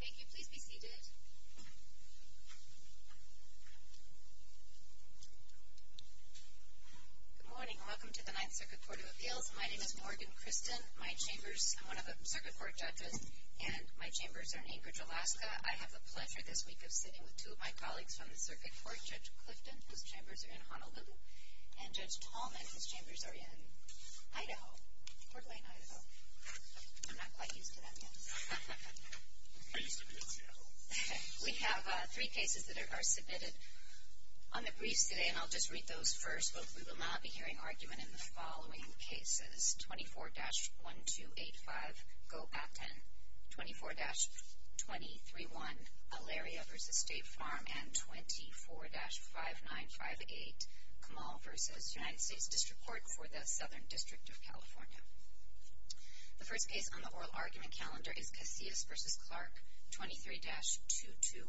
Thank you please be seated. Good morning, welcome to the Ninth Circuit Court of Appeals. My name is Morgan Christen. I'm one of the Circuit Court judges and my chambers are in Anchorage, Alaska. I have the pleasure this week of sitting with two of my colleagues from the Circuit Court, Judge Clifton, whose chambers are in Honolulu, and Judge Tallman, whose chambers are in Idaho, Portland, Idaho. I'm not quite used to that yet. We have three cases that are submitted on the briefs today and I'll just read those first. Both we will not be hearing argument in the following cases. 24-1285 Goat-A-Ten, 24-2031 Elaria v. State Farm, and 24-5958 Kamal v. United States District Court for the Southern District of California. The first case on the oral argument calendar is Casillas v. Clark, 23-2213.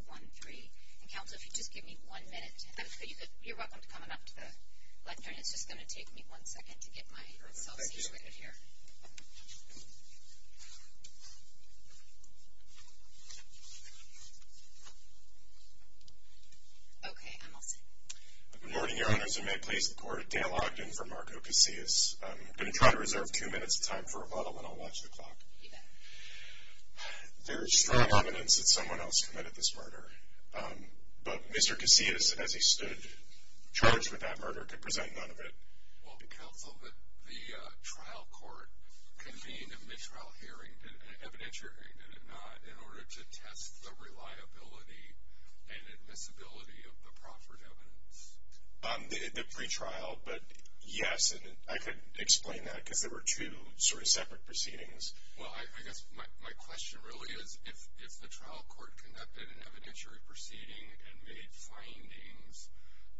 Counselor, if you'd just give me one minute. You're welcome to come up to the lectern. It's just going to take me one second to get myself situated here. Okay, I'm all set. Good morning, Your Honors, and may it please the Court, Dan Ogden for Marco Casillas. I'm going to try to reserve two minutes of time for rebuttal and I'll watch the clock. There is strong evidence that someone else committed this murder, but Mr. Casillas, as he stood charged with that murder, could present none of it. Well, Counsel, the trial court convened a mid-trial hearing, an evidentiary hearing, did it not, in order to test the reliability and admissibility of the proffered evidence? The pretrial, but yes, I could explain that because there were two sort of separate proceedings. Well, I guess my question really is, if the trial court conducted an evidentiary proceeding and made findings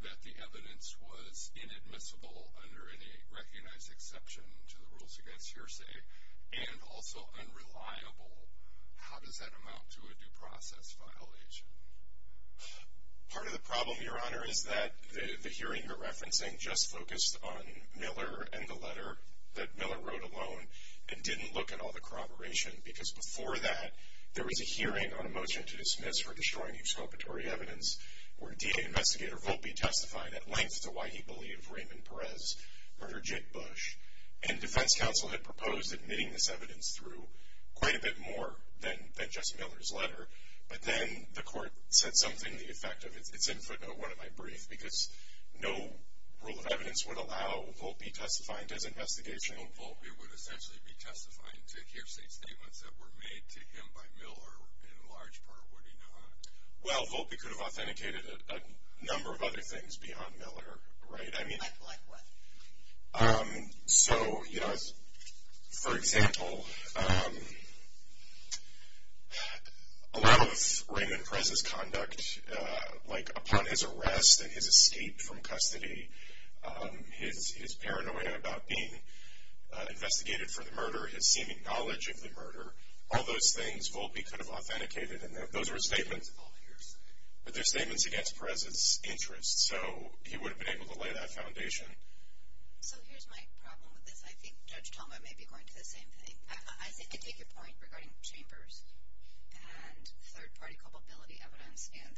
that the evidence was inadmissible under any recognized exception to the rules against hearsay, and also unreliable, how does that amount to a due process violation? Part of the problem, Your Honor, is that the hearing you're referencing just focused on Miller and the letter that Miller wrote alone, and didn't look at all the corroboration. Because before that, there was a hearing on a motion to dismiss for destroying exculpatory evidence, where DA Investigator Volpe testified at length to why he believed Raymond Perez murdered Jake Bush. And defense counsel had proposed admitting this evidence through quite a bit more than just Miller's letter. But then the court said something to the effect of, it's in footnote 1 of my brief, because no rule of evidence would allow Volpe testifying as investigational. Volpe would essentially be testifying to hearsay statements that were made to him by Miller, in large part, would he not? Well, Volpe could have authenticated a number of other things beyond Miller, right? Like what? So, for example, a lot of Raymond Perez's conduct, like upon his arrest and his escape from custody, his paranoia about being investigated for the murder, his seeming knowledge of the murder, all those things Volpe could have authenticated. But they're statements against Perez's interests, so he would have been able to lay that foundation. So here's my problem with this. I think Judge Talma may be going to the same thing. I think I take your point regarding chambers and third-party culpability evidence, and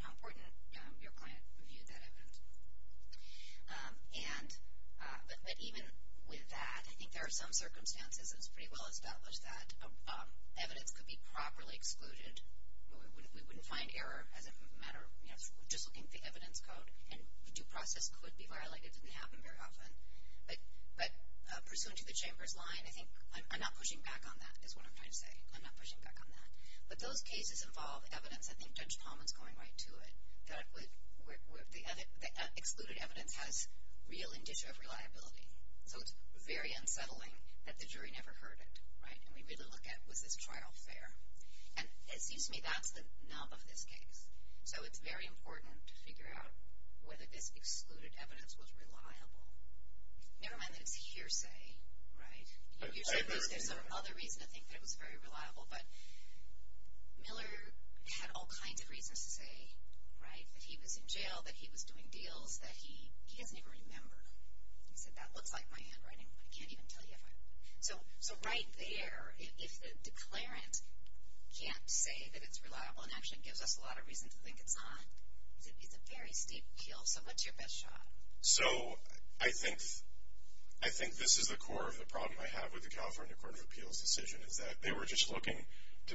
how important your client viewed that evidence. But even with that, I think there are some circumstances, and it's pretty well established, that evidence could be properly excluded. We wouldn't find error as a matter of just looking at the evidence code, and due process could be violated. It didn't happen very often. But pursuant to the chambers line, I think I'm not pushing back on that, is what I'm trying to say. I'm not pushing back on that. But those cases involve evidence. I think Judge Talma's going right to it, that the excluded evidence has real indicia of reliability. So it's very unsettling that the jury never heard it, right? And we really look at, was this trial fair? And it seems to me that's the nub of this case. So it's very important to figure out whether this excluded evidence was reliable. Never mind that it's hearsay, right? You said there's another reason to think that it was very reliable. But Miller had all kinds of reasons to say, right, that he was in jail, that he was doing deals, that he doesn't even remember. He said, that looks like my handwriting. I can't even tell you. So right there, if the declarant can't say that it's reliable, and actually gives us a lot of reason to think it's not, it's a very steep hill. So what's your best shot? So I think this is the core of the problem I have with the California Court of Appeals decision, is that they were just looking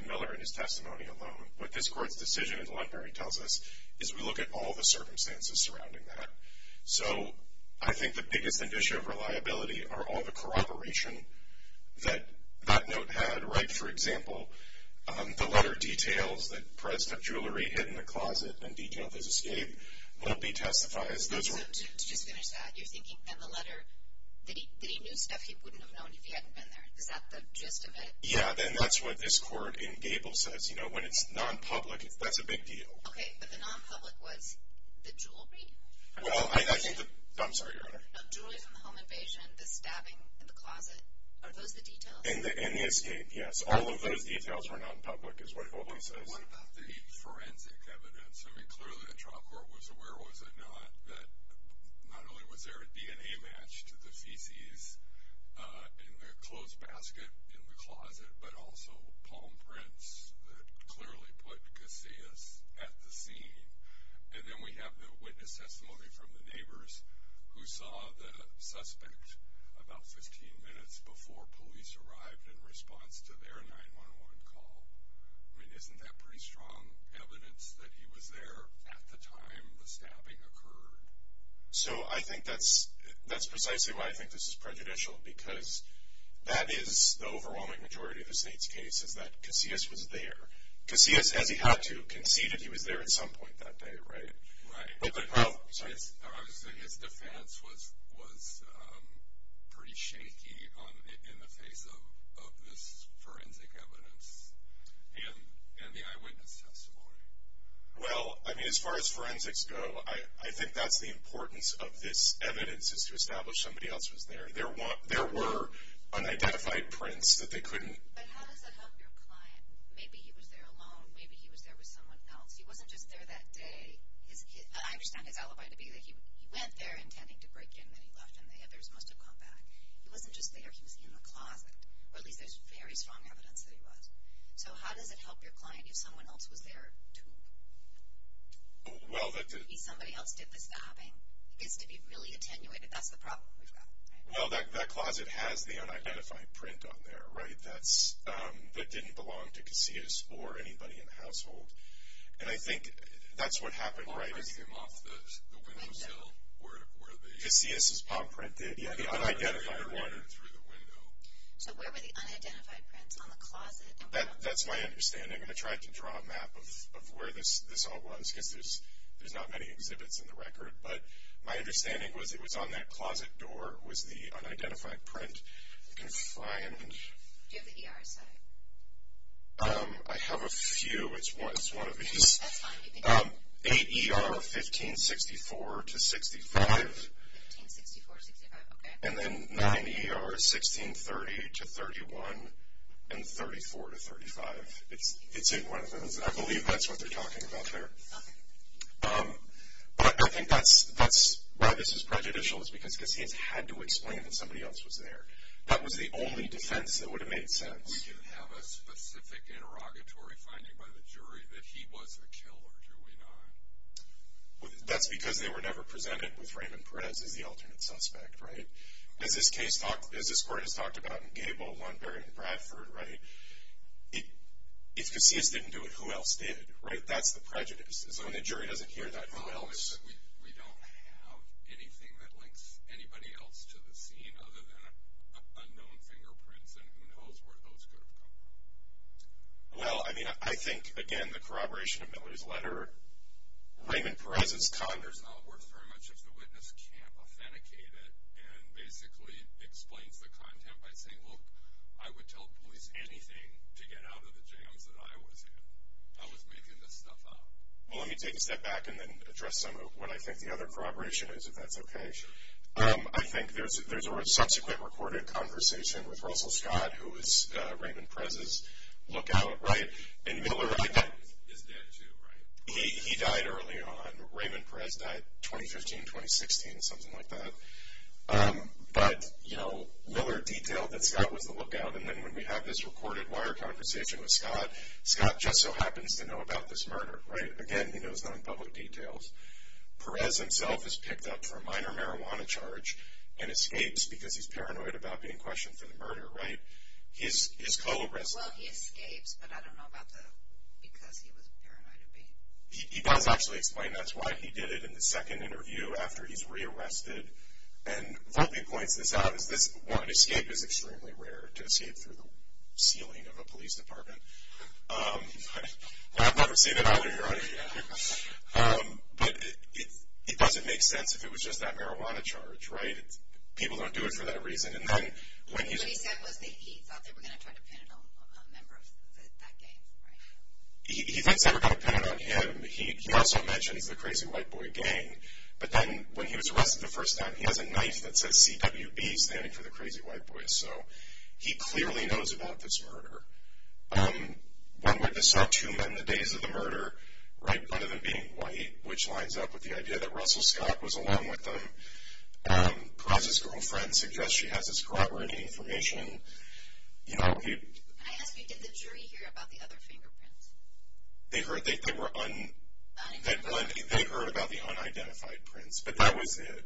to Miller and his testimony alone. What this court's decision in Lundner tells us is we look at all the circumstances surrounding that. So I think the biggest indicia of reliability are all the corroboration that that note had, right? For example, the letter details that Perez had jewelry hidden in the closet and detailed his escape. What if he testifies? So to just finish that, you're thinking that the letter, that he knew stuff he wouldn't have known if he hadn't been there. Is that the gist of it? Yeah. Then that's what this court in Gable says. You know, when it's nonpublic, that's a big deal. Okay. But the nonpublic was the jewelry? Well, I think the – I'm sorry, Your Honor. No, jewelry from the home invasion, the stabbing in the closet. Are those the details? And the escape, yes. All of those details were nonpublic is what Gable says. What about the forensic evidence? I mean, clearly the trial court was aware, was it not, that not only was there a DNA match to the feces in the clothes basket in the closet, but also palm prints that clearly put Casillas at the scene. And then we have the witness testimony from the neighbors who saw the suspect about 15 minutes before police arrived in response to their 911 call. I mean, isn't that pretty strong evidence that he was there at the time the stabbing occurred? So I think that's precisely why I think this is prejudicial, because that is the overwhelming majority of the state's case, is that Casillas was there. Casillas, as he had to, conceded he was there at some point that day, right? But the – oh, sorry. I was saying his defense was pretty shaky in the face of this forensic evidence and the eyewitness testimony. Well, I mean, as far as forensics go, I think that's the importance of this evidence, is to establish somebody else was there. There were unidentified prints that they couldn't – But how does that help your client? Maybe he was there alone. Maybe he was there with someone else. He wasn't just there that day. I understand his alibi to be that he went there intending to break in, then he left, and the others must have come back. He wasn't just there. He was in the closet, or at least there's very strong evidence that he was. So how does it help your client if someone else was there, too? Well, that – Maybe somebody else did the stabbing. It gets to be really attenuated. That's the problem we've got, right? Well, that closet has the unidentified print on there, right, that didn't belong to Casillas or anybody in the household. And I think that's what happened right at the – Off the window sill, where the – Casillas' palm print did, yeah. The unidentified one. So where were the unidentified prints? On the closet? That's my understanding. I tried to draw a map of where this all was, because there's not many exhibits in the record. But my understanding was it was on that closet door was the unidentified print confined. Do you have the ER site? I have a few. It's one of these. That's fine. You can – Eight ER 1564 to 65. 1564 to 65, okay. And then nine ER 1630 to 31 and 34 to 35. It's in one of those. I believe that's what they're talking about there. Okay. But I think that's why this is prejudicial, is because Casillas had to explain that somebody else was there. That was the only defense that would have made sense. We didn't have a specific interrogatory finding by the jury that he was the killer, do we not? That's because they were never presented with Raymond Perez as the alternate suspect, right? As this case talked – as this court has talked about in Gable, Lundberg, and Bradford, right, if Casillas didn't do it, who else did, right? That's the prejudice, is when the jury doesn't hear that, who else? Well, we don't have anything that links anybody else to the scene other than unknown fingerprints, and who knows where those could have come from. Well, I mean, I think, again, the corroboration of Miller's letter, Raymond Perez's converse not works very much if the witness can't authenticate it and basically explains the content by saying, look, I would tell police anything to get out of the jams that I was in. I was making this stuff up. Well, let me take a step back and then address some of what I think the other corroboration is, if that's okay. I think there's a subsequent recorded conversation with Russell Scott, who was Raymond Perez's lookout, right? And Miller – His dad, too, right? He died early on. Raymond Perez died 2015, 2016, something like that. But, you know, Miller detailed that Scott was the lookout, and then when we have this recorded wire conversation with Scott, Scott just so happens to know about this murder, right? Again, he knows none of the public details. Perez himself is picked up for a minor marijuana charge and escapes because he's paranoid about being questioned for the murder, right? His co-arrest – Well, he escapes, but I don't know about the because he was paranoid. He does actually explain that's why he did it in the second interview after he's rearrested. And Volpe points this out, is this one escape is extremely rare, to escape through the ceiling of a police department. I've never seen it either, your Honor, yet. But it doesn't make sense if it was just that marijuana charge, right? People don't do it for that reason. And then when he – What he said was that he thought they were going to try to pin it on a member of that gang, right? He thinks they were going to pin it on him. He also mentions the crazy white boy gang. But then when he was arrested the first time, he has a knife that says CWB standing for the crazy white boy. So he clearly knows about this murder. One witness saw two men the days of the murder, right? One of them being white, which lines up with the idea that Russell Scott was along with them. Perez's girlfriend suggests she has his corroborating information. I ask you, did the jury hear about the other fingerprints? They heard about the unidentified prints, but that was it. Is there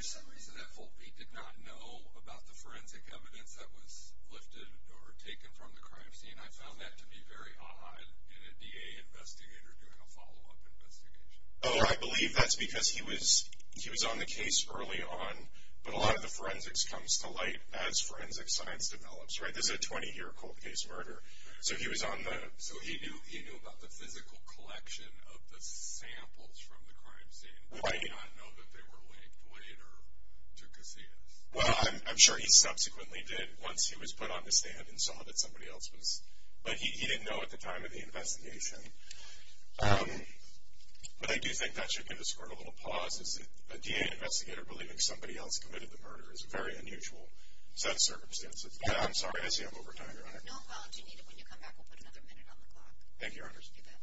some reason that Foltby did not know about the forensic evidence that was lifted or taken from the crime scene? I found that to be very odd in a DA investigator doing a follow-up investigation. Oh, I believe that's because he was on the case early on, but a lot of the forensics comes to light as forensic science develops, right? This is a 20-year cold case murder. So he knew about the physical collection of the samples from the crime scene. Why did he not know that they were linked later to Casillas? Well, I'm sure he subsequently did once he was put on the stand and saw that somebody else was. But he didn't know at the time of the investigation. But I do think that should give this court a little pause. A DA investigator believing somebody else committed the murder is a very unusual set of circumstances. I'm sorry, I see I'm over time, Your Honor. No apology needed. When you come back, we'll put another minute on the clock. Thank you, Your Honors. You bet.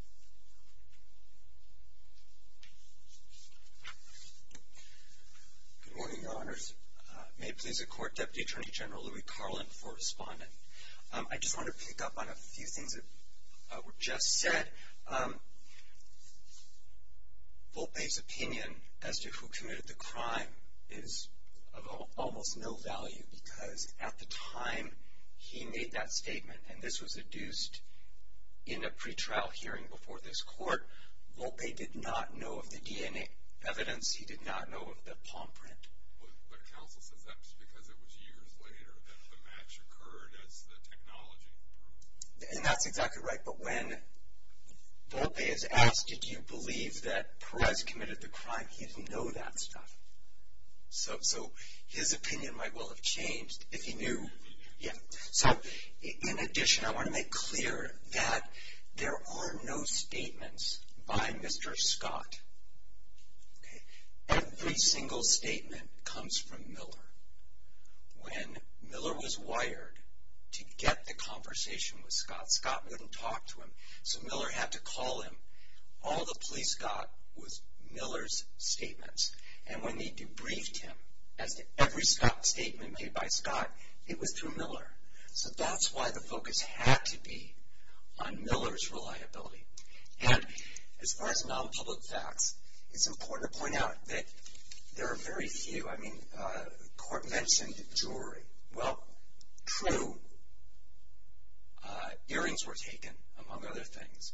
Good morning, Your Honors. May it please the Court, Deputy Attorney General Louis Carlin for responding. I just want to pick up on a few things that were just said. Foltby's opinion as to who committed the crime is of almost no value because at the time he made that statement, and this was adduced in a pretrial hearing before this court, Foltby did not know of the DNA evidence. He did not know of the palm print. But counsel says that just because it was years later that the match occurred as the technology proved. And that's exactly right. But when Foltby is asked, did you believe that Perez committed the crime, he didn't know that stuff. So his opinion might well have changed if he knew. So in addition, I want to make clear that there are no statements by Mr. Scott. Every single statement comes from Miller. When Miller was wired to get the conversation with Scott, Scott wouldn't talk to him, so Miller had to call him. All the police got was Miller's statements. And when they debriefed him as to every statement made by Scott, it was through Miller. So that's why the focus had to be on Miller's reliability. And as far as nonpublic facts, it's important to point out that there are very few. I mean, the court mentioned jewelry. Well, true, earrings were taken, among other things,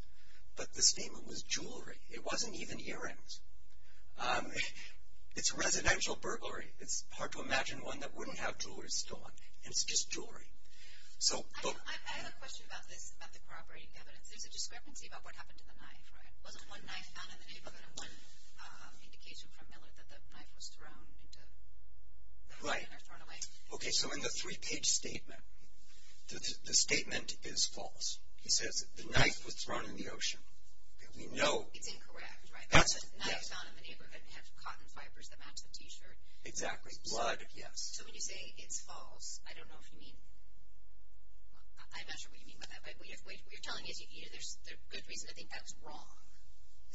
but the statement was jewelry. It wasn't even earrings. It's residential burglary. It's hard to imagine one that wouldn't have jewelry stolen, and it's just jewelry. I have a question about this, about the corroborating evidence. There's a discrepancy about what happened to the knife, right? It wasn't one knife found in the neighborhood, and one indication from Miller that the knife was thrown into the river or thrown away. Right. Okay, so in the three-page statement, the statement is false. He says the knife was thrown in the ocean. It's incorrect, right? Knives found in the neighborhood have cotton fibers that match the T-shirt. Exactly, blood, yes. So when you say it's false, I don't know if you mean, I'm not sure what you mean by that, but what you're telling me is there's good reason to think that was wrong.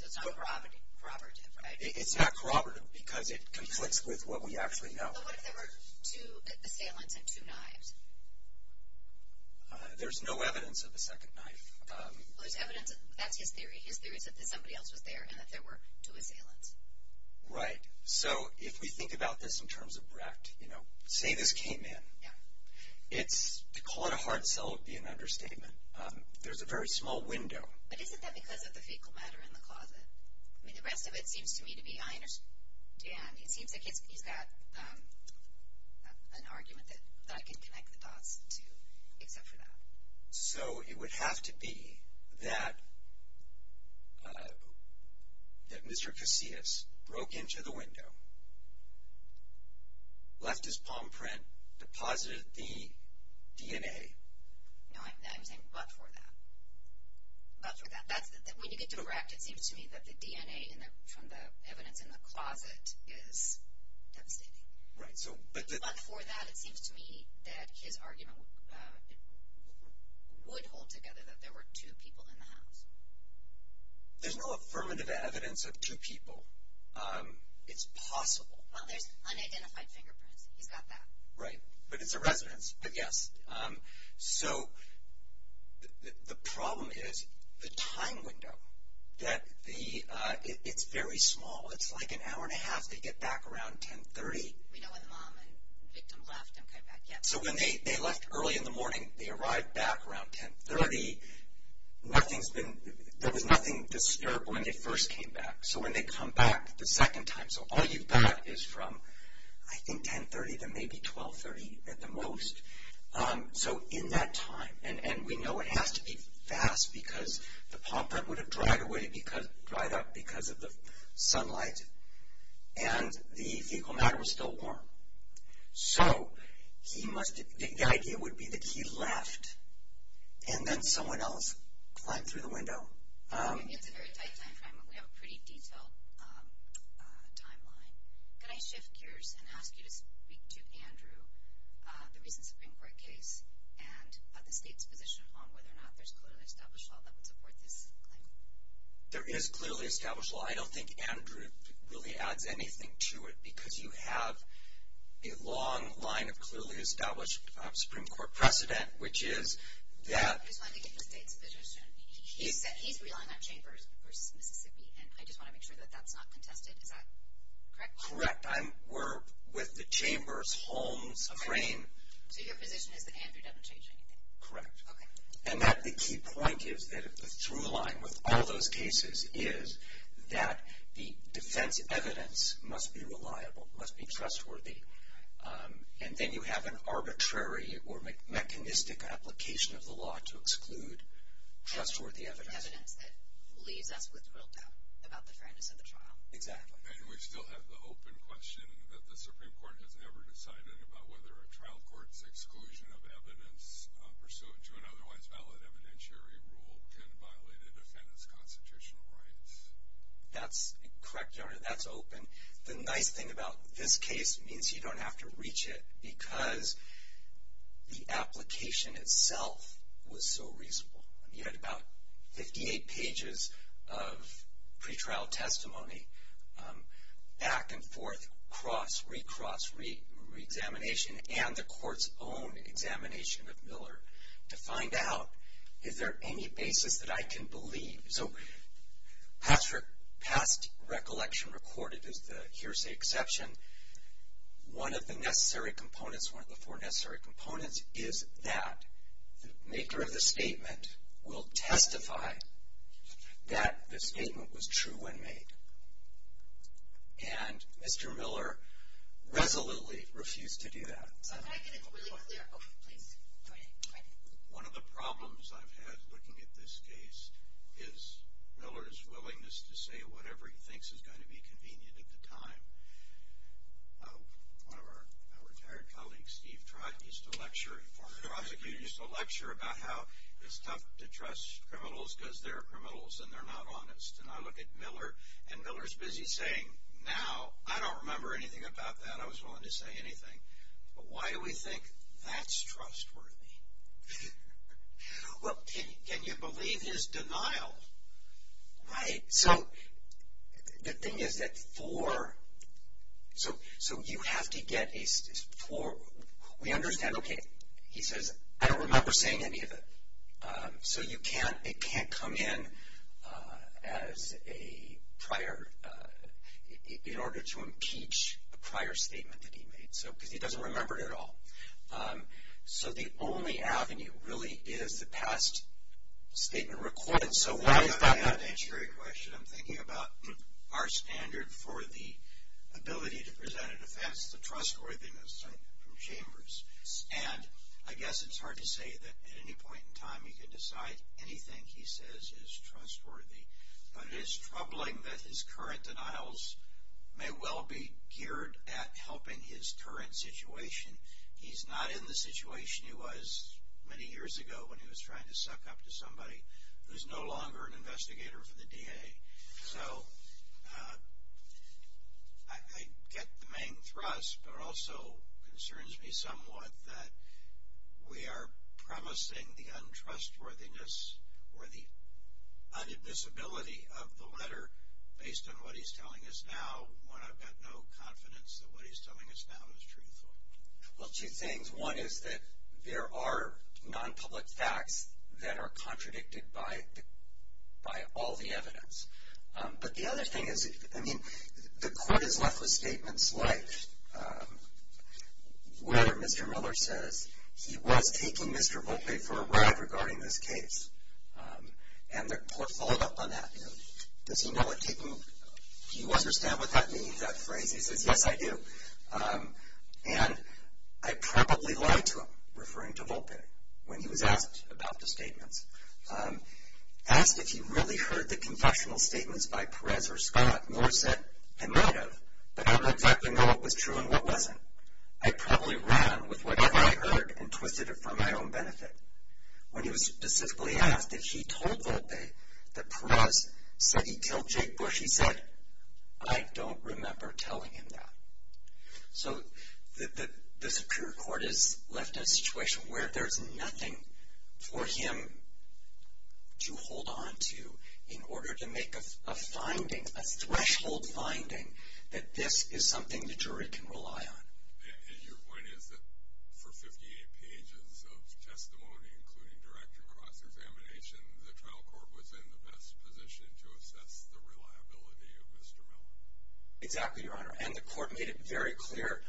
So it's not corroborative, right? It's not corroborative because it conflicts with what we actually know. But what if there were two assailants and two knives? There's no evidence of a second knife. Well, there's evidence, that's his theory. His theory is that somebody else was there and that there were two assailants. Right. So if we think about this in terms of Brecht, you know, say this came in. Yeah. To call it a hard sell would be an understatement. There's a very small window. But isn't that because of the fecal matter in the closet? I mean, the rest of it seems to me to be, I understand. I mean, it seems like he's got an argument that I can connect the dots to except for that. So it would have to be that Mr. Casillas broke into the window, left his palm print, deposited the DNA. No, I'm saying but for that. But for that. When you get to Brecht, it seems to me that the DNA from the evidence in the closet is devastating. Right. But for that, it seems to me that his argument would hold together that there were two people in the house. There's no affirmative evidence of two people. It's possible. Well, there's unidentified fingerprints. He's got that. Right. But it's a residence. But yes. So the problem is the time window. It's very small. It's like an hour and a half to get back around 1030. We know when the mom and victim left and came back, yes. So when they left early in the morning, they arrived back around 1030. There was nothing disturbed when they first came back. So when they come back the second time, so all you've got is from, I think, 1030 to maybe 1230 at the most. So in that time. And we know it has to be fast because the paw print would have dried up because of the sunlight, and the fecal matter was still warm. So the idea would be that he left and then someone else climbed through the window. It's a very tight time frame. We have a pretty detailed timeline. Can I shift gears and ask you to speak to Andrew, the recent Supreme Court case, and the state's position on whether or not there's clearly established law that would support this claim? There is clearly established law. I don't think Andrew really adds anything to it because you have a long line of clearly established Supreme Court precedent, which is that he's relying on Chambers versus Mississippi, and I just want to make sure that that's not contested. Is that correct? Correct. We're with the Chambers-Holmes frame. So your position is that Andrew doesn't change anything? Correct. Okay. And the key point is that the through line with all those cases is that the defense evidence must be reliable, must be trustworthy, and then you have an arbitrary or mechanistic application of the law to exclude trustworthy evidence. Evidence that leaves us with real doubt about the fairness of the trial. Exactly. And we still have the open question that the Supreme Court has never decided about whether a trial court's exclusion of evidence pursuant to an otherwise valid evidentiary rule can violate a defendant's constitutional rights. That's correct, Your Honor. That's open. The nice thing about this case means you don't have to reach it because the application itself was so reasonable. You had about 58 pages of pretrial testimony, back and forth, cross, recross, reexamination, and the court's own examination of Miller to find out is there any basis that I can believe. So past recollection recorded is the hearsay exception. One of the necessary components, one of the four necessary components, is that the maker of the statement will testify that the statement was true when made. And Mr. Miller resolutely refused to do that. Can I get it really clear? Please. One of the problems I've had looking at this case is Miller's willingness to say whatever he thinks is going to be convenient at the time. One of our retired colleagues, Steve Trott, used to lecture, a former prosecutor, used to lecture about how it's tough to trust criminals because they're criminals and they're not honest. And I look at Miller, and Miller's busy saying, Now, I don't remember anything about that. I was willing to say anything. But why do we think that's trustworthy? Well, can you believe his denial? Right? So the thing is that for, so you have to get a, for, we understand, okay, he says, I don't remember saying any of it. So you can't, it can't come in as a prior, in order to impeach the prior statement that he made. So, because he doesn't remember it at all. So the only avenue really is the past statement recorded. So why is that? That's a great question. I'm thinking about our standard for the ability to present an offense, the trustworthiness of Chambers. And I guess it's hard to say that at any point in time you can decide anything he says is trustworthy. But it is troubling that his current denials may well be geared at helping his current situation. I mean, he's not in the situation he was many years ago when he was trying to suck up to somebody who's no longer an investigator for the DA. So, I get the main thrust. But it also concerns me somewhat that we are promising the untrustworthiness or the un-admissibility of the letter based on what he's telling us now when I've got no confidence that what he's telling us now is truthful. Well, two things. One is that there are non-public facts that are contradicted by all the evidence. But the other thing is, I mean, the court is left with statements like, where Mr. Miller says he was taking Mr. Volpe for a ride regarding this case. And the court followed up on that. Does he know what taking, do you understand what that means, that phrase? He says, yes, I do. And I probably lied to him referring to Volpe when he was asked about the statements. Asked if he really heard the confessional statements by Perez or Scott, Miller said, I might have, but I don't exactly know what was true and what wasn't. I probably ran with whatever I heard and twisted it for my own benefit. When he was specifically asked if he told Volpe that Perez said he killed Jake Bush, he said, I don't remember telling him that. So the superior court is left in a situation where there's nothing for him to hold onto in order to make a finding, a threshold finding, that this is something the jury can rely on. And your point is that for 58 pages of testimony, including director cross-examination, the trial court was in the best position to assess the reliability of Mr. Miller. Exactly, Your Honor. And the court made it very clear,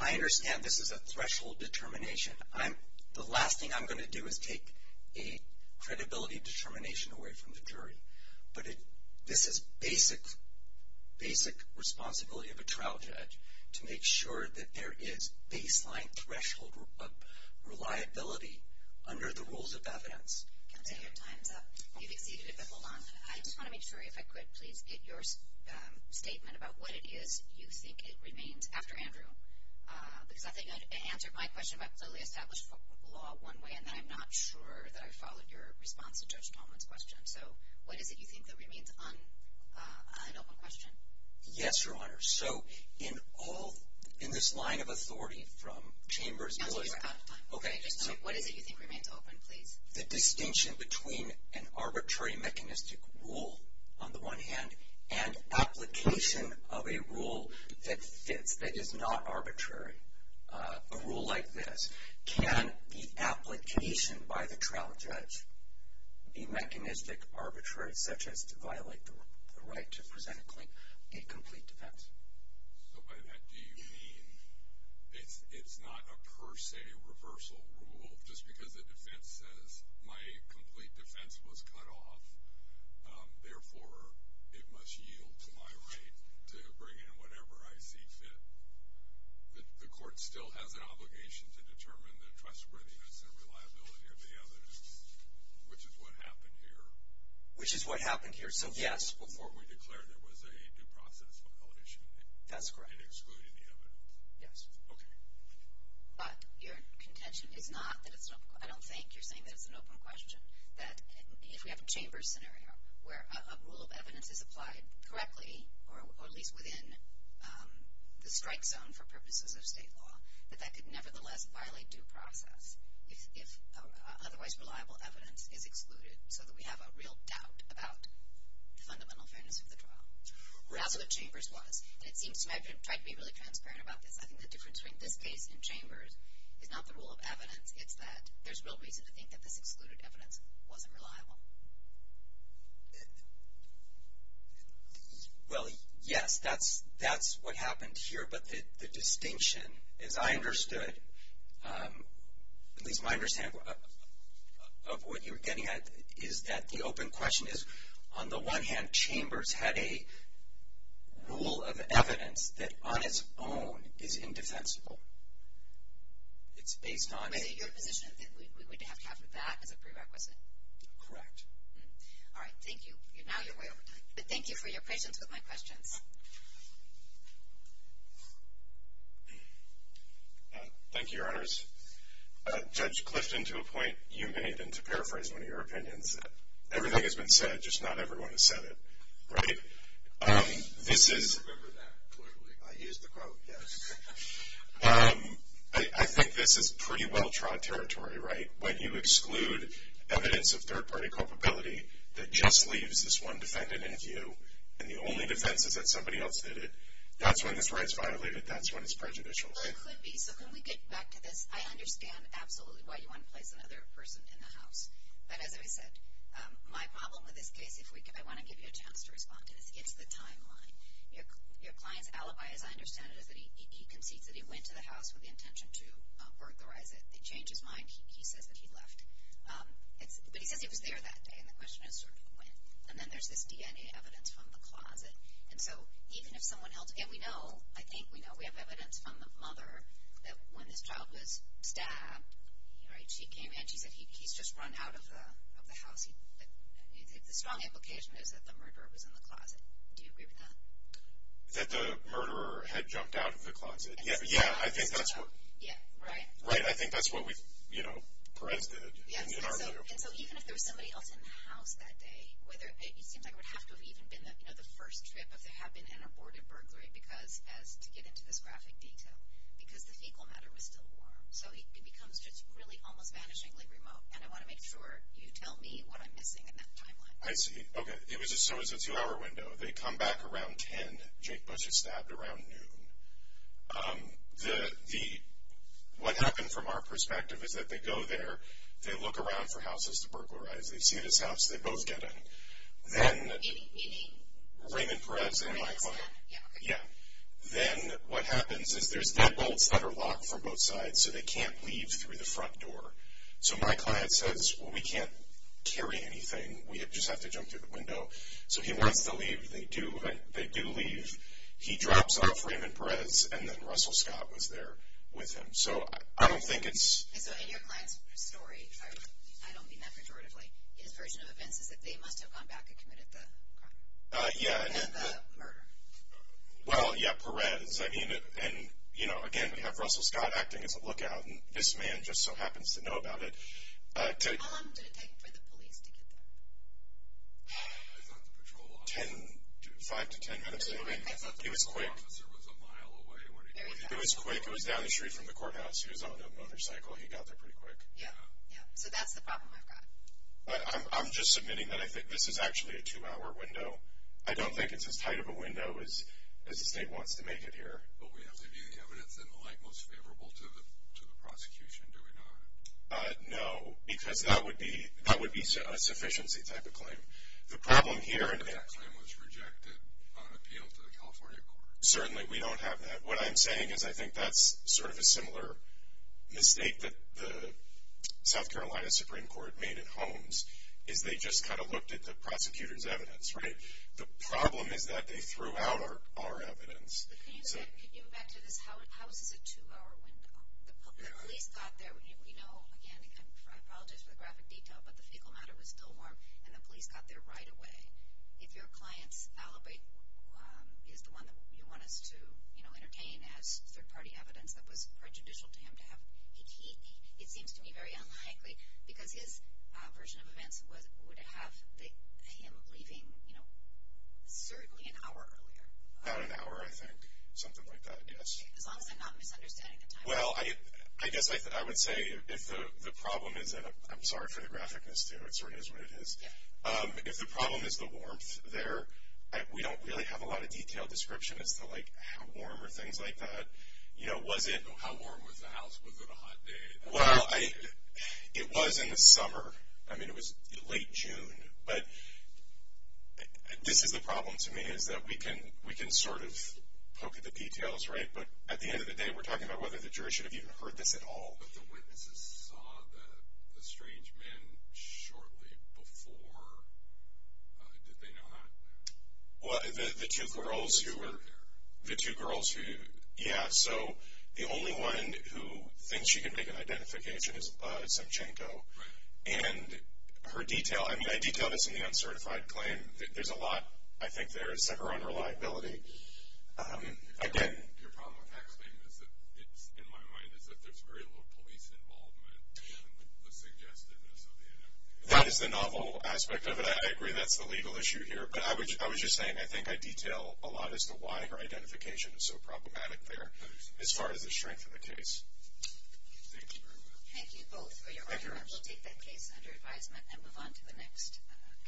I understand this is a threshold determination. The last thing I'm going to do is take a credibility determination away from the jury. But this is basic, basic responsibility of a trial judge to make sure that there is baseline threshold reliability under the rules of evidence. Counselor, your time's up. You've exceeded it, but hold on. I just want to make sure, if I could, please, get your statement about what it is you think it remains after Andrew. Because I think I answered my question about clearly established law one way, and then I'm not sure that I followed your response to Judge Coleman's question. So what is it you think that remains an open question? Yes, Your Honor. So in all, in this line of authority from Chambers and Miller. Counselor, you're out of time. Okay, just a moment. What is it you think remains open, please? The distinction between an arbitrary mechanistic rule, on the one hand, and application of a rule that fits, that is not arbitrary, a rule like this. Can the application by the trial judge be mechanistic, arbitrary, such as to violate the right to present a complete defense? So by that, do you mean it's not a per se reversal rule, just because the defense says my complete defense was cut off, therefore it must yield to my right to bring in whatever I see fit? The court still has an obligation to determine the trustworthiness and reliability of the evidence, which is what happened here. Which is what happened here. So, yes. Before we declared there was a due process violation. That's correct. In excluding the evidence. Yes. Okay. But your contention is not that it's an open question. I don't think you're saying that it's an open question, that if we have a Chambers scenario where a rule of evidence is applied correctly, or at least within the strike zone for purposes of state law, that that could nevertheless violate due process, if otherwise reliable evidence is excluded, so that we have a real doubt about the fundamental fairness of the trial. Right. Or else what Chambers was. And it seems to me I've tried to be really transparent about this. I think the difference between this case and Chambers is not the rule of evidence, it's that there's real reason to think that this excluded evidence wasn't reliable. Well, yes. That's what happened here. But the distinction, as I understood, at least my understanding of what you were getting at, is that the open question is, on the one hand, Chambers had a rule of evidence that on its own is indefensible. It's based on. So, your position is that we would have to have that as a prerequisite. Correct. All right. Thank you. Now you're way over time. But thank you for your patience with my questions. Thank you, Your Honors. Judge Clifton, to a point you made, and to paraphrase one of your opinions, that everything has been said, just not everyone has said it. Right? I remember that clearly. I used the quote, yes. I think this is pretty well-trod territory, right? When you exclude evidence of third-party culpability that just leaves this one defendant in view and the only defense is that somebody else did it, that's when this right is violated. That's when it's prejudicial. Well, it could be. So, can we get back to this? I understand absolutely why you want to place another person in the house. But as I said, my problem with this case, if I want to give you a chance to respond to this, it's the timeline. Your client's alibi, as I understand it, is that he concedes that he went to the house with the intention to authorize it. He changed his mind. He says that he left. But he says he was there that day, and the question is sort of when. And then there's this DNA evidence from the closet. And so, even if someone else – and we know, I think we know, we have evidence from the mother, that when this child was stabbed, she came in and she said he's just run out of the house. The strong implication is that the murderer was in the closet. Do you agree with that? That the murderer had jumped out of the closet? Yeah. Right? Right. I think that's what we, you know, Perez did. Yes, and so even if there was somebody else in the house that day, it seems like it would have to have even been the first trip if there had been an aborted burglary to get into this graphic detail because the fecal matter was still warm. So it becomes just really almost vanishingly remote, and I want to make sure you tell me what I'm missing in that timeline. I see. Okay. It was a two-hour window. They come back around 10. Jake Butcher stabbed around noon. What happened from our perspective is that they go there. They look around for houses to burglarize. They see this house. They both get in. Then Raymond Perez and my client. Then what happens is there's deadbolts that are locked from both sides, so they can't leave through the front door. So my client says, well, we can't carry anything. We just have to jump through the window. So he wants to leave. They do leave. He drops off Raymond Perez, and then Russell Scott was there with him. So I don't think it's... So in your client's story, I don't mean that pejoratively, his version of events is that they must have gone back and committed the crime. Yeah. The murder. Well, yeah, Perez. I mean, and, you know, again, we have Russell Scott acting as a lookout, and this man just so happens to know about it. How long did it take for the police to get there? I thought the patrol was... Five to ten minutes. It was quick. I thought the police officer was a mile away when he got there. It was quick. It was down the street from the courthouse. He was on a motorcycle. He got there pretty quick. Yeah, yeah. So that's the problem I've got. I'm just submitting that I think this is actually a two-hour window. I don't think it's as tight of a window as the state wants to make it here. But we have to view the evidence in the light most favorable to the prosecution, do we not? No, because that would be a sufficiency type of claim. The problem here... If that claim was rejected on appeal to the California court... Certainly, we don't have that. What I'm saying is I think that's sort of a similar mistake that the South Carolina Supreme Court made at Holmes is they just kind of looked at the prosecutor's evidence, right? The problem is that they threw out our evidence. Can you go back to this? How is this a two-hour window? The police got there... We know, again, I apologize for the graphic detail, but the fecal matter was still warm, and the police got there right away. If your client's alibi is the one that you want us to entertain as third-party evidence that was prejudicial to him to have... It seems to me very unlikely, because his version of events would have him leaving certainly an hour earlier. About an hour, I think. Something like that, yes. As long as I'm not misunderstanding the time. Well, I guess I would say if the problem is... I'm sorry for the graphicness, too. It sort of is what it is. If the problem is the warmth there, we don't really have a lot of detailed description as to how warm or things like that. How warm was the house? Was it a hot day? Well, it was in the summer. I mean, it was late June. But this is the problem to me is that we can sort of poke at the details, right? But at the end of the day, we're talking about whether the jury should have even heard this at all. But the witnesses saw the strange man shortly before... Did they know that? Well, the two girls who were... The two girls who were there. The two girls who... Yeah, so the only one who thinks she can make an identification is Semchenko. Right. And her detail... I mean, I detail this in the uncertified claim. There's a lot, I think, there is to her unreliability. Again... That is the novel aspect of it. I agree that's the legal issue here. But I was just saying I think I detail a lot as to why her identification is so problematic there as far as the strength of the case. Thank you very much. Thank you both for your argument. We'll take that case under advisement and move on to the next case.